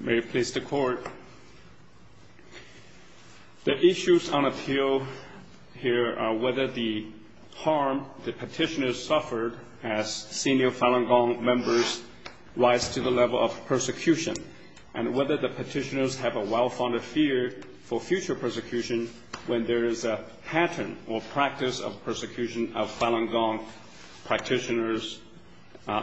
May it please the Court. The issues on appeal here are whether the harm the petitioners suffered as senior Falun Gong members rise to the level of persecution, and whether the petitioners have a well-founded fear for future persecution when there is a pattern or practice of persecution of Falun Gong practitioners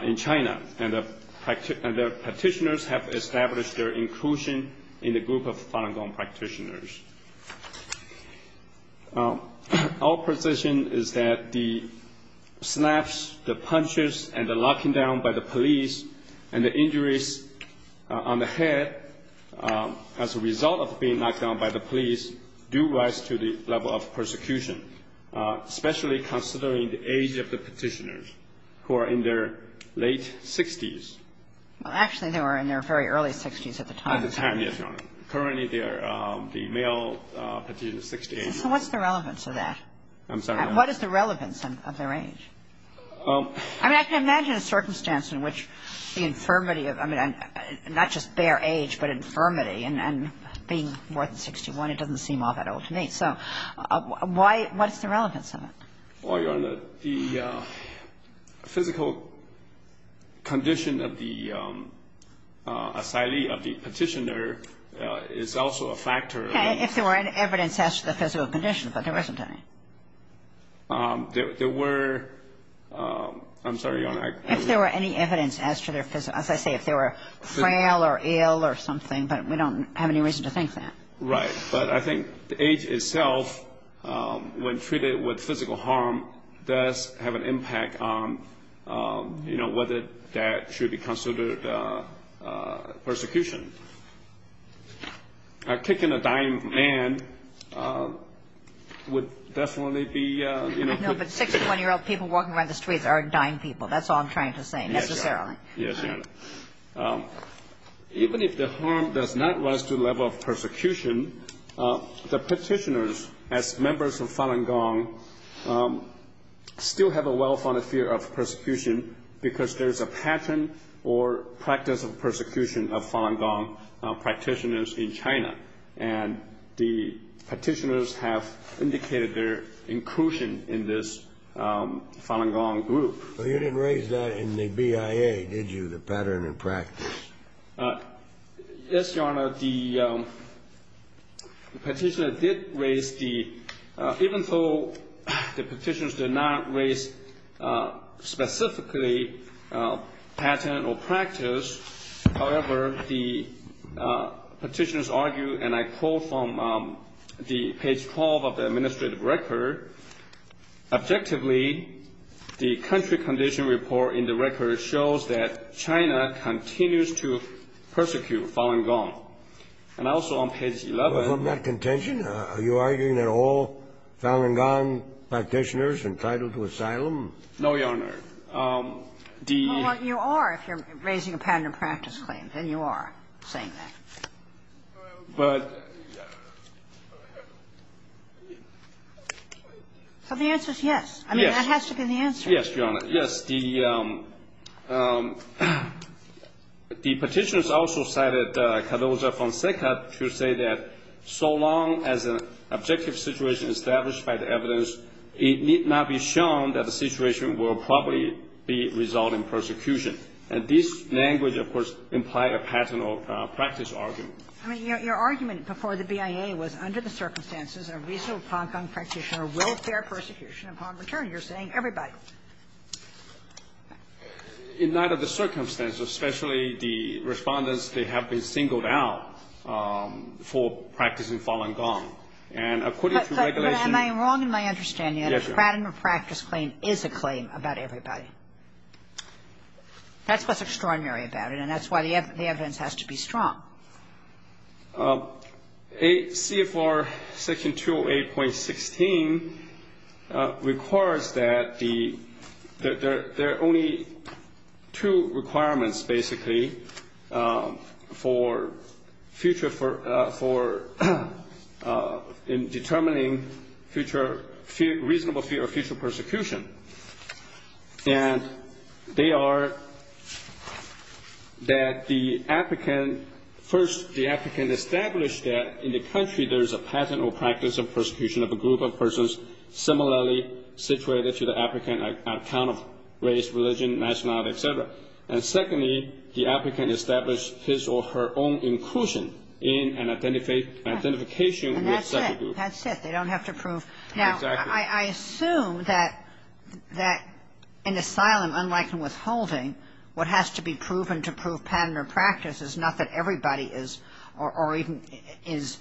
in China, and the petitioners have established their own inclusion in the group of Falun Gong practitioners. Our position is that the snaps, the punches, and the locking down by the police and the injuries on the head as a result of being knocked down by the police do rise to the level of persecution, especially considering the age of the petitioners who are in their late 60s. Well, actually, they were in their very early 60s at the time. At the time, yes, Your Honor. Currently, the male petitioner is 60 years old. So what's the relevance of that? I'm sorry, Your Honor. What is the relevance of their age? I mean, I can imagine a circumstance in which the infirmity of – I mean, not just bare age, but infirmity, and being more than 61, it doesn't seem all that old to me. So why – what is the relevance of it? Well, Your Honor, the physical condition of the asylee, of the petitioner, is also a factor. Okay, if there were any evidence as to the physical condition, but there isn't any. There were – I'm sorry, Your Honor. If there were any evidence as to their – as I say, if they were frail or ill or something, but we don't have any reason to think that. Right, but I think the age itself, when treated with physical harm, does have an impact on whether that should be considered persecution. Kicking a dying man would definitely be – No, but 61-year-old people walking around the streets are dying people. That's all I'm trying to say, necessarily. Yes, Your Honor. Even if the harm does not rise to the level of persecution, the petitioners, as members of Falun Gong, still have a well-founded fear of persecution, because there's a pattern or practice of persecution of Falun Gong practitioners in China. And the petitioners have indicated their inclusion in this Falun Gong group. Well, you didn't raise that in the BIA, did you, the pattern and practice? Yes, Your Honor. The petitioner did raise the – even though the petitioners did not raise specifically pattern or practice, however, the petitioners argue, and I quote from the page 12 of the administrative record, objectively, the country condition report in the record shows that China continues to persecute Falun Gong. And also on page 11 – Well, from that contention, are you arguing that all Falun Gong practitioners are entitled to asylum? No, Your Honor. Well, you are, if you're raising a pattern of practice claim. Then you are saying that. But – So the answer is yes. Yes. I mean, that has to be the answer. Yes, Your Honor. Yes. The petitioners also cited Cardozo-Fonseca to say that so long as an objective situation is established by the evidence, it need not be shown that the situation will probably result in persecution. And this language, of course, implies a pattern of practice argument. I mean, your argument before the BIA was under the circumstances, a reasonable Falun Gong practitioner will bear persecution upon return. You're saying everybody. In light of the circumstances, especially the Respondents, they have been singled out for practicing Falun Gong. And according to regulation – But am I wrong in my understanding? Yes, Your Honor. A pattern of practice claim is a claim about everybody. That's what's extraordinary about it. And that's why the evidence has to be strong. CFR Section 208.16 requires that the – there are only two requirements, basically, for future – for determining future – reasonable fear of future persecution. And they are that the applicant – first, the applicant established that in the country there is a pattern or practice of persecution of a group of persons similarly situated to the applicant on account of race, religion, nationality, et cetera. And secondly, the applicant established his or her own inclusion in an identification with such a group. And that's it. That's it. They don't have to prove – Exactly. I assume that in asylum, unlike in withholding, what has to be proven to prove pattern or practice is not that everybody is – or even is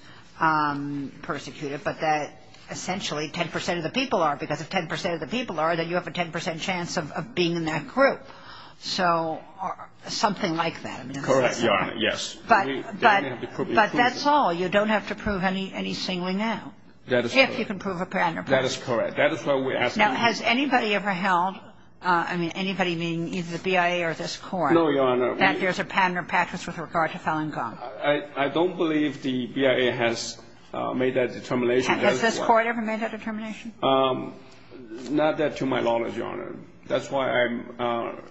persecuted, but that essentially 10 percent of the people are. Because if 10 percent of the people are, then you have a 10 percent chance of being in that group. So something like that. Correct, Your Honor. Yes. But that's all. You don't have to prove any singling out. That is correct. Now, has anybody ever held – I mean, anybody meaning either the BIA or this Court that there's a pattern or practice with regard to Falun Gong? I don't believe the BIA has made that determination. Has this Court ever made that determination? Not that to my knowledge, Your Honor. That's why I'm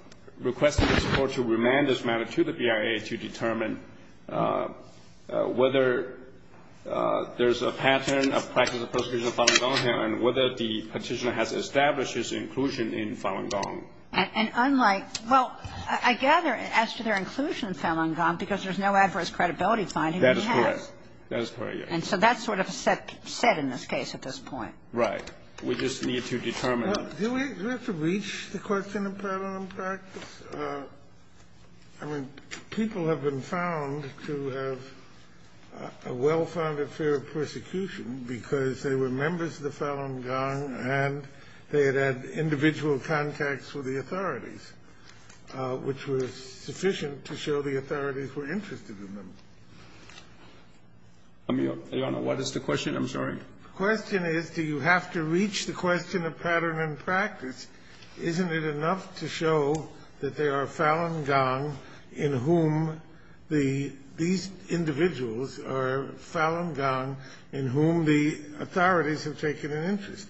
requesting this Court to remand this matter to the BIA to determine whether there's a pattern of practice of persecution of Falun Gong here and whether the Petitioner has established his inclusion in Falun Gong. And unlike – well, I gather as to their inclusion in Falun Gong because there's no adverse credibility finding that he has. That is correct. That is correct, yes. And so that's sort of set in this case at this point. Right. We just need to determine. Do we have to reach the question of Falun Gong practice? I mean, people have been found to have a well-founded fear of persecution because they were members of the Falun Gong and they had had individual contacts with the authorities, which was sufficient to show the authorities were interested in them. Your Honor, what is the question? I'm sorry. The question is, do you have to reach the question of pattern and practice? Isn't it enough to show that there are Falun Gong in whom the – these individuals are Falun Gong in whom the authorities have taken an interest?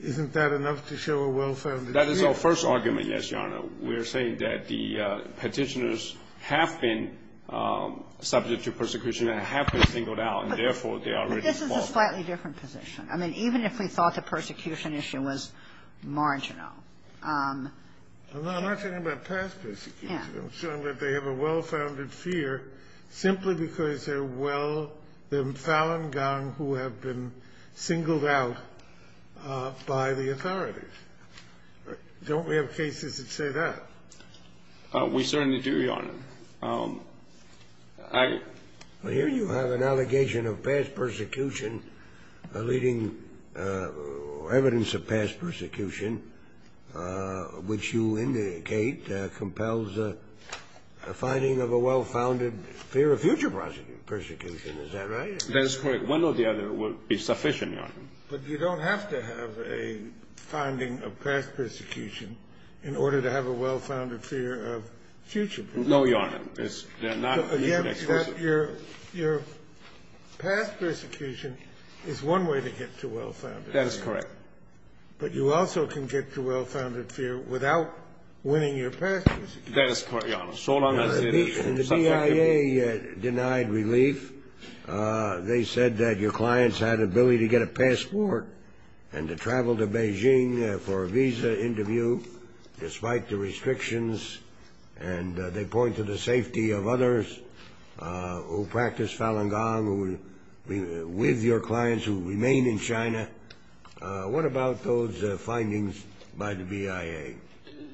Isn't that enough to show a well-founded fear? That is our first argument, yes, Your Honor. We are saying that the Petitioners have been subject to persecution and have been singled out, and therefore, they are already involved. But this is a slightly different position. I mean, even if we thought the persecution issue was marginal. I'm not talking about past persecution. I'm saying that they have a well-founded fear simply because they're well – they're Falun Gong who have been singled out by the authorities. Don't we have cases that say that? We certainly do, Your Honor. Well, here you have an allegation of past persecution, leading evidence of past persecution, which you indicate compels a finding of a well-founded fear of future persecution. Is that right? That is correct. One or the other would be sufficient, Your Honor. But you don't have to have a finding of past persecution in order to have a well-founded fear of future persecution. No, Your Honor. They're not exclusive. Your past persecution is one way to get to well-founded fear. That is correct. But you also can get to well-founded fear without winning your past persecution. That is correct, Your Honor. So long as it is subjective. The DIA denied relief. They said that your clients had ability to get a passport and to travel to Beijing for a visa interview despite the restrictions. And they point to the safety of others who practice Falun Gong with your clients who remain in China. What about those findings by the DIA?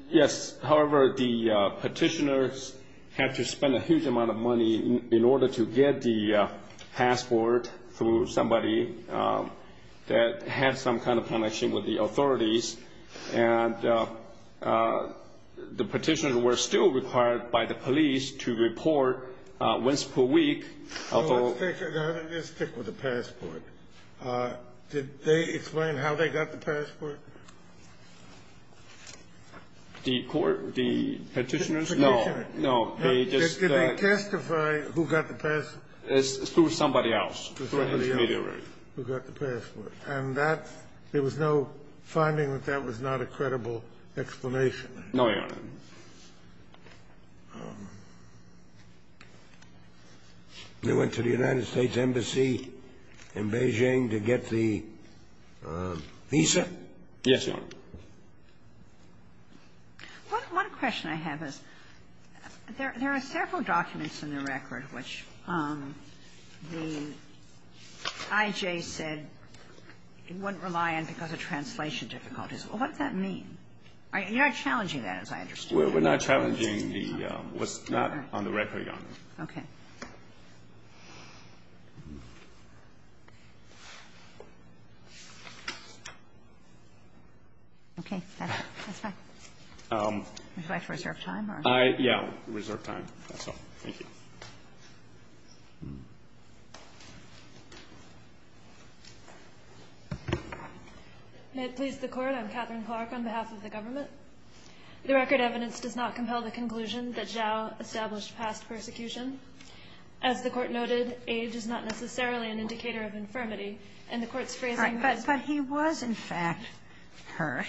Yes. However, the petitioners have to spend a huge amount of money in order to get the passport through somebody that has some kind of connection with the authorities. And the petitioners were still required by the police to report once per week. Your Honor, let's stick with the passport. Did they explain how they got the passport? The petitioners? No. Did they testify who got the passport? It's through somebody else. Somebody else who got the passport. And that, there was no finding that that was not a credible explanation. No, Your Honor. They went to the United States Embassy in Beijing to get the visa? Yes, Your Honor. One question I have is there are several documents in the record which the IJ said it wouldn't rely on because of translation difficulties. What does that mean? You're not challenging that, as I understand. We're not challenging what's not on the record, Your Honor. Okay. Okay, that's it. That's fine. Do I have to reserve time? Yeah, reserve time. That's all. Thank you. May it please the Court. I'm Catherine Clark on behalf of the government. The record evidence does not compel the conclusion that Zhao established past persecution. As the Court noted, age is not necessarily an indicator of infirmity. And the Court's phrasing was. But he was, in fact, hurt.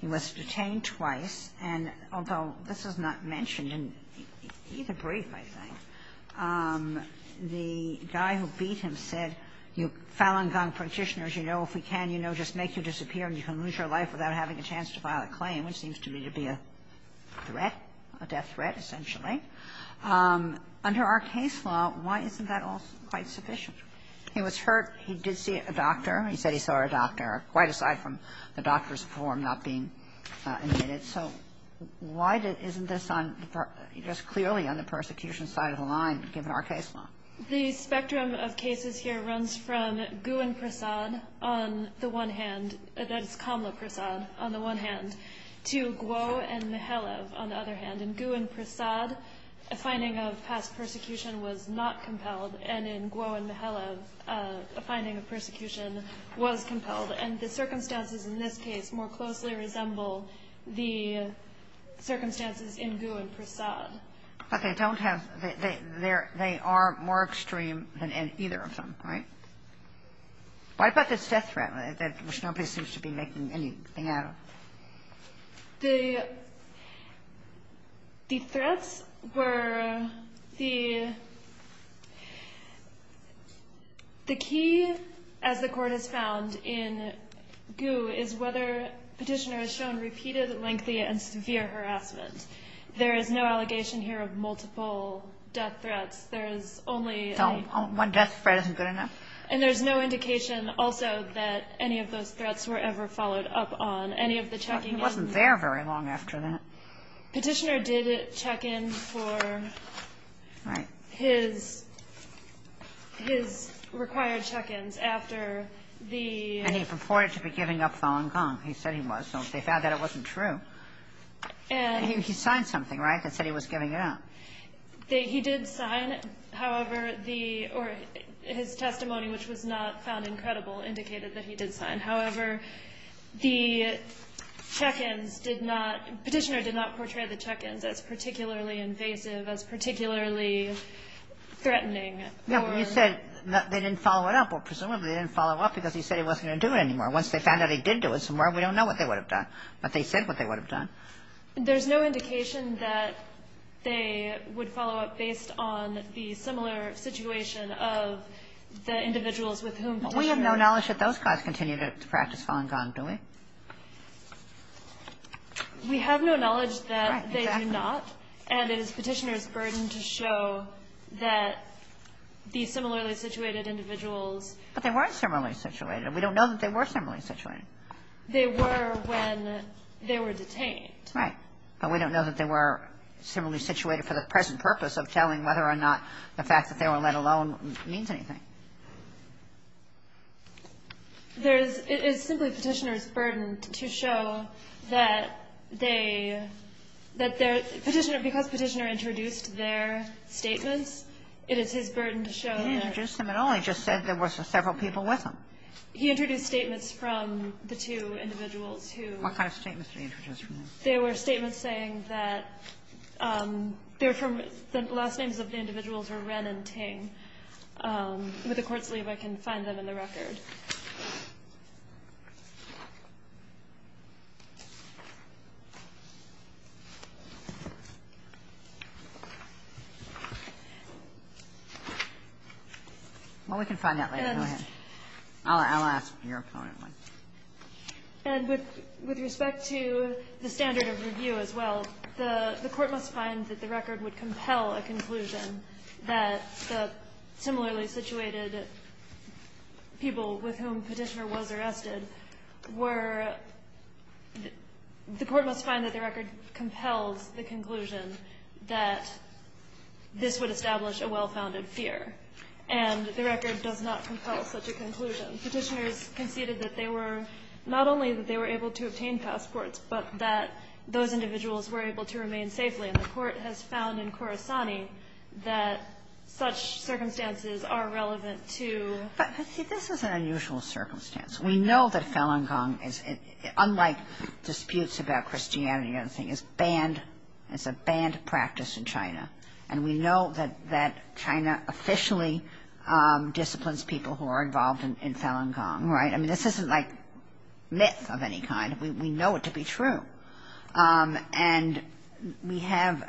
He was detained twice. And although this is not mentioned in either brief, I think, the guy who beat him said, you Falun Gong practitioners, you know, if we can, you know, just make you disappear and you can lose your life without having a chance to file a claim, which seems to me to be a threat, a death threat, essentially. Under our case law, why isn't that all quite sufficient? He was hurt. He did see a doctor. He said he saw a doctor. Quite aside from the doctor's form not being admitted. So why isn't this clearly on the persecution side of the line, given our case law? The spectrum of cases here runs from Gu and Prasad on the one hand. That's Kamla Prasad on the one hand. To Guo and Mihailov on the other hand. In Gu and Prasad, a finding of past persecution was not compelled. And in Guo and Mihailov, a finding of persecution was compelled. And the circumstances in this case more closely resemble the circumstances in Gu and Prasad. But they don't have the – they are more extreme than either of them, right? Why about this death threat, which nobody seems to be making anything out of? The threats were – the key, as the Court has found in Gu, is whether Petitioner has shown repeated, lengthy, and severe harassment. There is no allegation here of multiple death threats. There is only a – So one death threat isn't good enough? And there's no indication also that any of those threats were ever followed up on. Any of the checking – He wasn't there very long after that. Petitioner did check in for his required check-ins after the – And he purported to be giving up Falun Gong. He said he was. So they found that it wasn't true. And – He signed something, right, that said he was giving it up? He did sign. However, the – or his testimony, which was not found incredible, indicated that he did sign. However, the check-ins did not – Petitioner did not portray the check-ins as particularly invasive, as particularly threatening. Yeah, but you said they didn't follow it up. Well, presumably they didn't follow up because he said he wasn't going to do it anymore. Once they found out he did do it somewhere, we don't know what they would have done. But they said what they would have done. There's no indication that they would follow up based on the similar situation of the individuals with whom Petitioner – We have no knowledge that those guys continued to practice Falun Gong, do we? We have no knowledge that they do not. Right, exactly. And it is Petitioner's burden to show that these similarly situated individuals – But they weren't similarly situated. We don't know that they were similarly situated. They were when they were detained. Right. But we don't know that they were similarly situated for the present purpose of telling whether or not the fact that they were let alone means anything. There's – it's simply Petitioner's burden to show that they – that their – Petitioner – because Petitioner introduced their statements, it is his burden to show that – He didn't introduce them at all. He just said there were several people with him. He introduced statements from the two individuals who – What kind of statements did he introduce from them? They were statements saying that they're from – the last names of the individuals were Ren and Ting. With the Court's leave, I can find them in the record. Well, we can find that later. Go ahead. I'll ask your opponent one. And with respect to the standard of review as well, the Court must find that the record would compel a conclusion that the similarly situated people with whom Petitioner was arrested were – the Court must find that the record compels the conclusion that this would establish a well-founded fear. And the record does not compel such a conclusion. Petitioners conceded that they were – not only that they were able to obtain passports, but that those individuals were able to remain safely. And the Court has found in Khorasani that such circumstances are relevant to – But see, this is an unusual circumstance. We know that Falun Gong is – unlike disputes about Christianity and everything, is banned – it's a banned practice in China. And we know that China officially disciplines people who are involved in Falun Gong, right? I mean, this isn't like myth of any kind. We know it to be true. And we have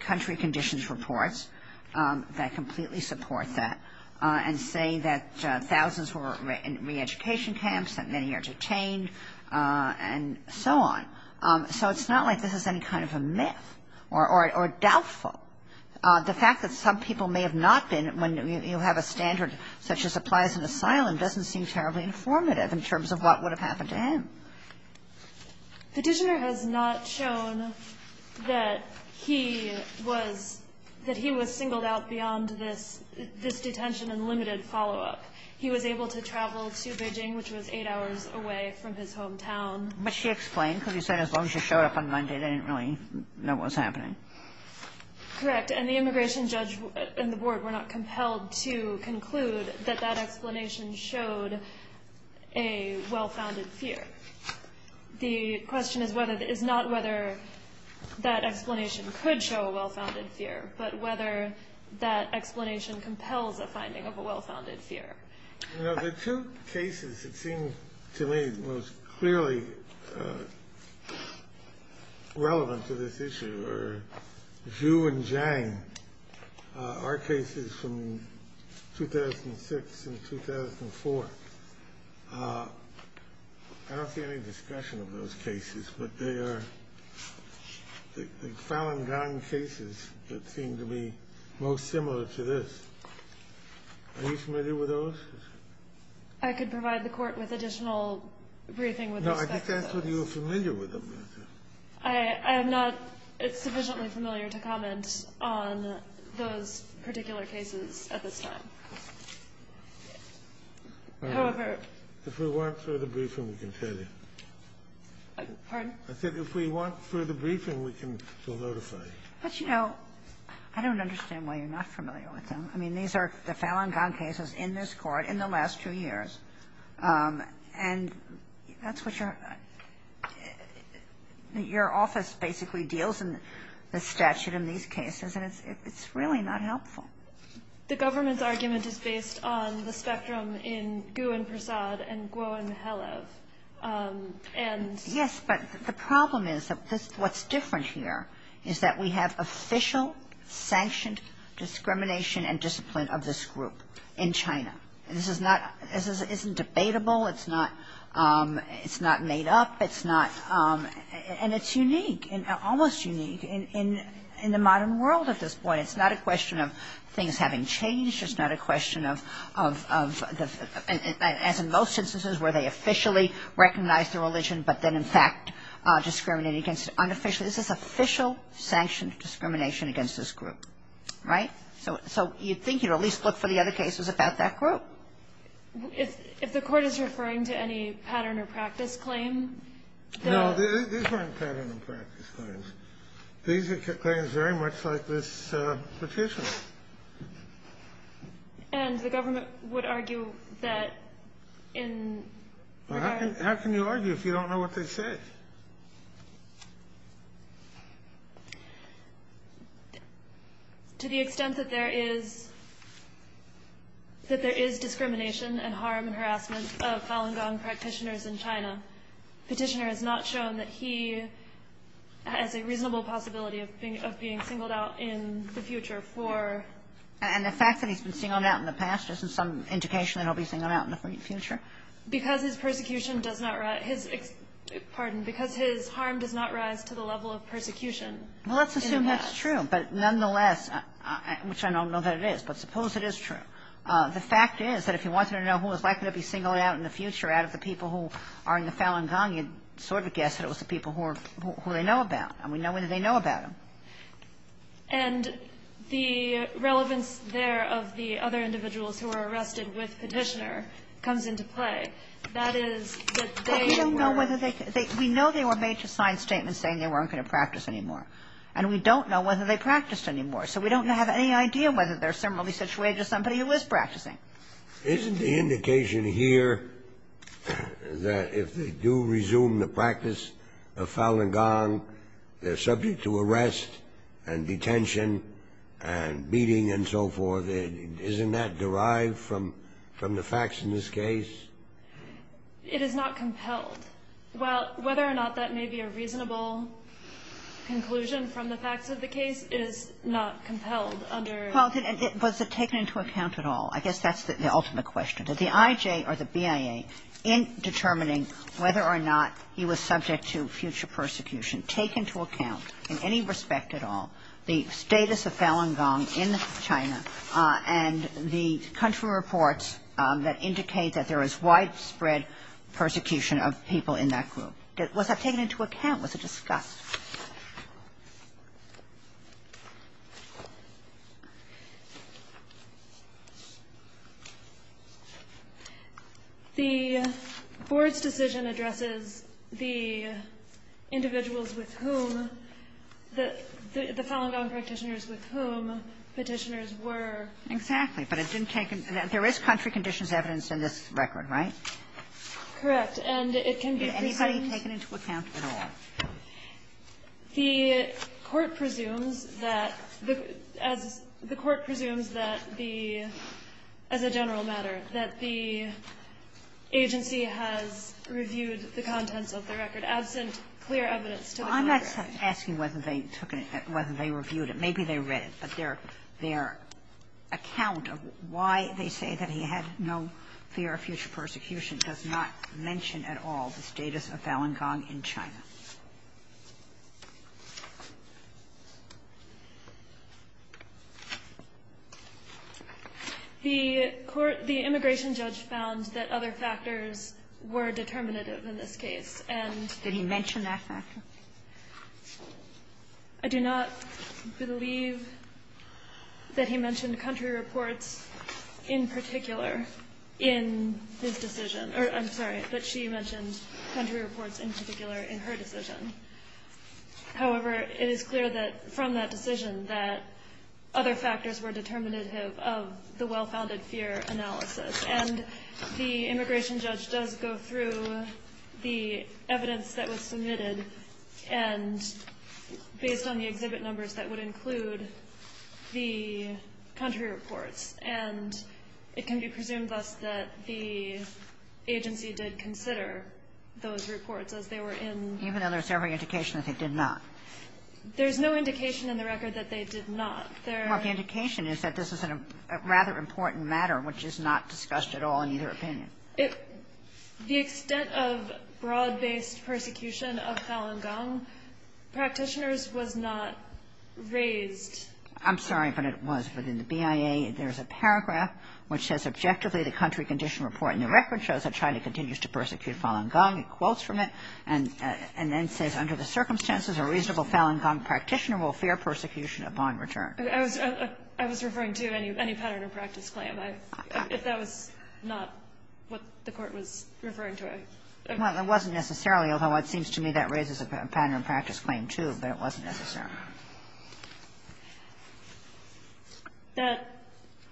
country conditions reports that completely support that and say that thousands were in re-education camps, that many are detained, and so on. So it's not like this is any kind of a myth or doubtful. The fact that some people may have not been when you have a standard such as applies in asylum doesn't seem terribly informative in terms of what would have happened to him. Petitioner has not shown that he was – that he was singled out beyond this detention and limited follow-up. He was able to travel to Beijing, which was eight hours away from his hometown. But she explained, because you said as long as she showed up on Monday, they didn't really know what was happening. Correct. And the immigration judge and the board were not compelled to conclude that that explanation showed a well-founded fear. The question is whether – is not whether that explanation could show a well-founded fear, but whether that explanation compels a finding of a well-founded fear. You know, the two cases that seem to me most clearly relevant to this issue are Zhu and Zhang, our cases from 2006 and 2004. I don't see any discussion of those cases, but they are the Falun Gong cases that seem to be most similar to this. Are you familiar with those? I could provide the Court with additional briefing with respect to those. No, I just asked whether you were familiar with them. I am not sufficiently familiar to comment on those particular cases at this time. However – If we want further briefing, we can tell you. Pardon? I said if we want further briefing, we can notify you. But, you know, I don't understand why you're not familiar with them. I mean, these are the Falun Gong cases in this Court in the last two years. And that's what you're – your office basically deals in the statute in these cases, and it's really not helpful. The government's argument is based on the spectrum in Gu and Prasad and Guo and Mihailov. Yes, but the problem is that what's different here is that we have official sanctioned discrimination and discipline of this group in China. This is not – this isn't debatable. It's not made up. It's not – and it's unique, almost unique in the modern world at this point. It's not a question of things having changed. It's not a question of – as in most instances where they officially recognize the religion, but then in fact discriminate against it unofficially. This is official sanctioned discrimination against this group. Right? So you'd think you'd at least look for the other cases about that group. If the Court is referring to any pattern or practice claim, the – No, these weren't pattern or practice claims. These are claims very much like this petition. And the government would argue that in regards – Well, how can you argue if you don't know what they say? To the extent that there is – that there is discrimination and harm and harassment of Falun Gong practitioners in China, Petitioner has not shown that he has a reasonable possibility of being singled out in the future for – And the fact that he's been singled out in the past, isn't some indication that he'll be singled out in the future? Because his persecution does not – his – pardon me. Because his harm does not rise to the level of persecution in the past. Well, let's assume that's true. But nonetheless, which I don't know that it is, but suppose it is true. The fact is that if you wanted to know who was likely to be singled out in the future out of the people who are in the Falun Gong, you'd sort of guess that it was the people who they know about. And we know whether they know about him. And the relevance there of the other individuals who were arrested with Petitioner comes into play. That is that they were – We don't know whether they – we know they were made to sign statements saying they weren't going to practice anymore. And we don't know whether they practiced anymore. So we don't have any idea whether they're similarly situated to somebody who is practicing. Isn't the indication here that if they do resume the practice of Falun Gong, they're subject to arrest and detention and beating and so forth? Isn't that derived from the facts in this case? It is not compelled. Whether or not that may be a reasonable conclusion from the facts of the case, it is not compelled under – Well, was it taken into account at all? I guess that's the ultimate question. Did the IJ or the BIA, in determining whether or not he was subject to future persecution, take into account in any respect at all the status of Falun Gong in China and the country reports that indicate that there is widespread persecution of people in that group? Was that taken into account? Was it discussed? The Board's decision addresses the individuals with whom the – Exactly. But it didn't take – there is country conditions evidence in this record, right? Correct. And it can be presumed – Did anybody take it into account at all? The Court presumes that the – as the Court presumes that the – as a general matter, that the agency has reviewed the contents of the record absent clear evidence to the Congress. I'm not asking whether they took it, whether they reviewed it. Maybe they read it, but their account of why they say that he had no fear of future persecution does not mention at all the status of Falun Gong in China. The court – the immigration judge found that other factors were determinative in this case, and – Did he mention that factor? I do not believe that he mentioned country reports in particular in his decision – or, I'm sorry, that she mentioned country reports in particular in her decision. However, it is clear that from that decision that other factors were determinative of the well-founded fear analysis. And the immigration judge does go through the evidence that was submitted, and based on the exhibit numbers, that would include the country reports. And it can be presumed, thus, that the agency did consider those reports as they were in – Even though there's every indication that they did not? There's no indication in the record that they did not. Well, the indication is that this is a rather important matter, which is not discussed at all in either opinion. The extent of broad-based persecution of Falun Gong practitioners was not raised. I'm sorry, but it was. Within the BIA, there's a paragraph which says, Objectively, the country condition report in the record shows that China continues to persecute Falun Gong. It quotes from it and then says, Under the circumstances, a reasonable Falun Gong practitioner will fear persecution upon return. I was referring to any pattern of practice claim. If that was not what the Court was referring to. Well, it wasn't necessarily, although it seems to me that raises a pattern of practice claim, too, but it wasn't necessarily.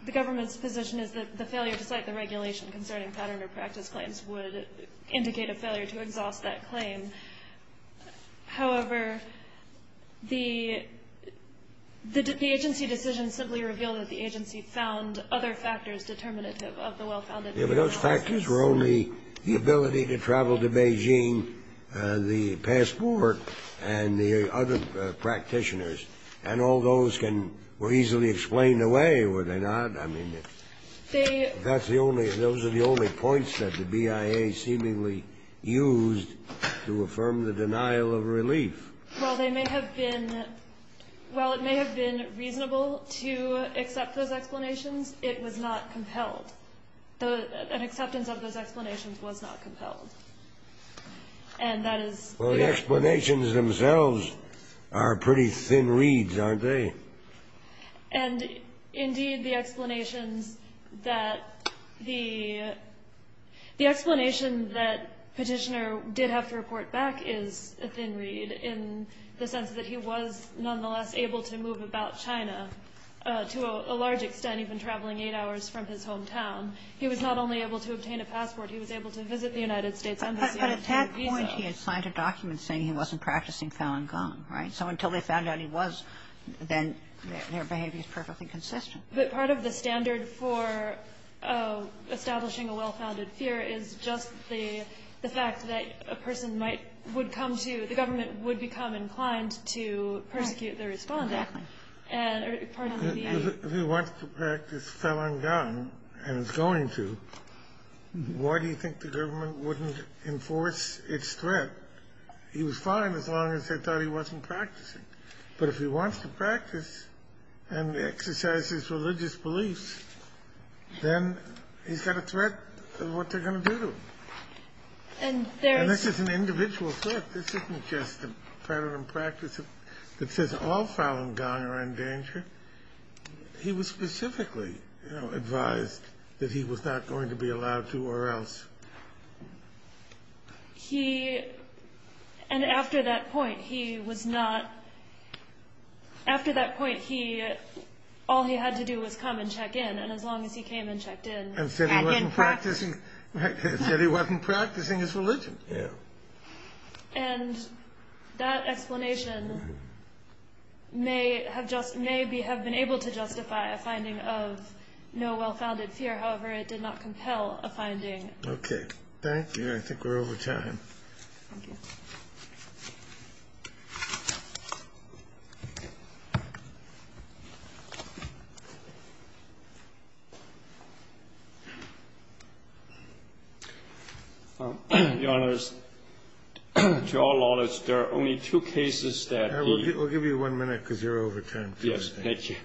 The government's position is that the failure to cite the regulation concerning pattern of practice claims would indicate a failure to exhaust that claim. However, the agency decision simply revealed that the agency found other factors determinative of the well-founded. Yeah, but those factors were only the ability to travel to Beijing, the passport, and the other practitioners. And all those were easily explained away, were they not? Those are the only points that the BIA seemingly used to affirm the denial of relief. Well, it may have been reasonable to accept those explanations. It was not compelled. An acceptance of those explanations was not compelled. Well, the explanations themselves are pretty thin reeds, aren't they? And, indeed, the explanations that the explanation that Petitioner did have to report back is a thin reed in the sense that he was nonetheless able to move about China, to a large extent, even traveling eight hours from his hometown. He was not only able to obtain a passport. He was able to visit the United States Embassy. But at that point, he had signed a document saying he wasn't practicing Falun Gong, right? So until they found out he was, then their behavior is perfectly consistent. But part of the standard for establishing a well-founded fear is just the fact that a person might – would come to – the government would become inclined to persecute their respondent. Exactly. And part of the BIA – If he wants to practice Falun Gong, and is going to, why do you think the government wouldn't enforce its threat? He was fine as long as they thought he wasn't practicing. But if he wants to practice, and exercises religious beliefs, then he's got a threat of what they're going to do to him. And there is – And this is an individual threat. This isn't just a pattern of practice that says all Falun Gong are in danger. He was specifically advised that he was not going to be allowed to, or else. He – and after that point, he was not – after that point, he – all he had to do was come and check in. And as long as he came and checked in – And said he wasn't practicing his religion. Yeah. And that explanation may have been able to justify a finding of no well-founded fear. However, it did not compel a finding. Okay. Thank you. I think we're over time. Thank you. Your Honors, to our knowledge, there are only two cases that the – We'll give you one minute, because you're over time. Yes. Thank you.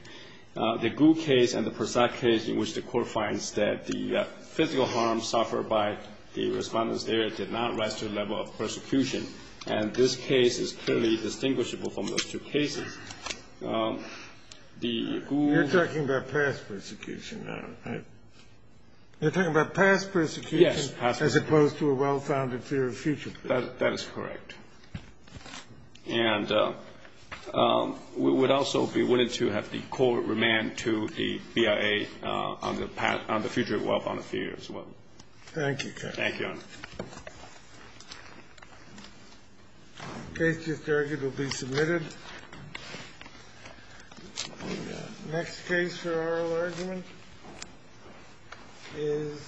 The Gu case and the Persaud case in which the court finds that the physical harm suffered by the respondents there did not rise to the level of persecution. And this case is clearly distinguishable from those two cases. The Gu – You're talking about past persecution now, right? You're talking about past persecution? Yes, past persecution. As opposed to a well-founded fear of future persecution. That is correct. And we would also be willing to have the court remand to the BIA on the future of well-founded fear as well. Thank you, Judge. Thank you, Your Honor. Case just argued will be submitted. Next case for oral argument is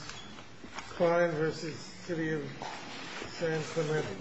Klein v. City of San Clemente.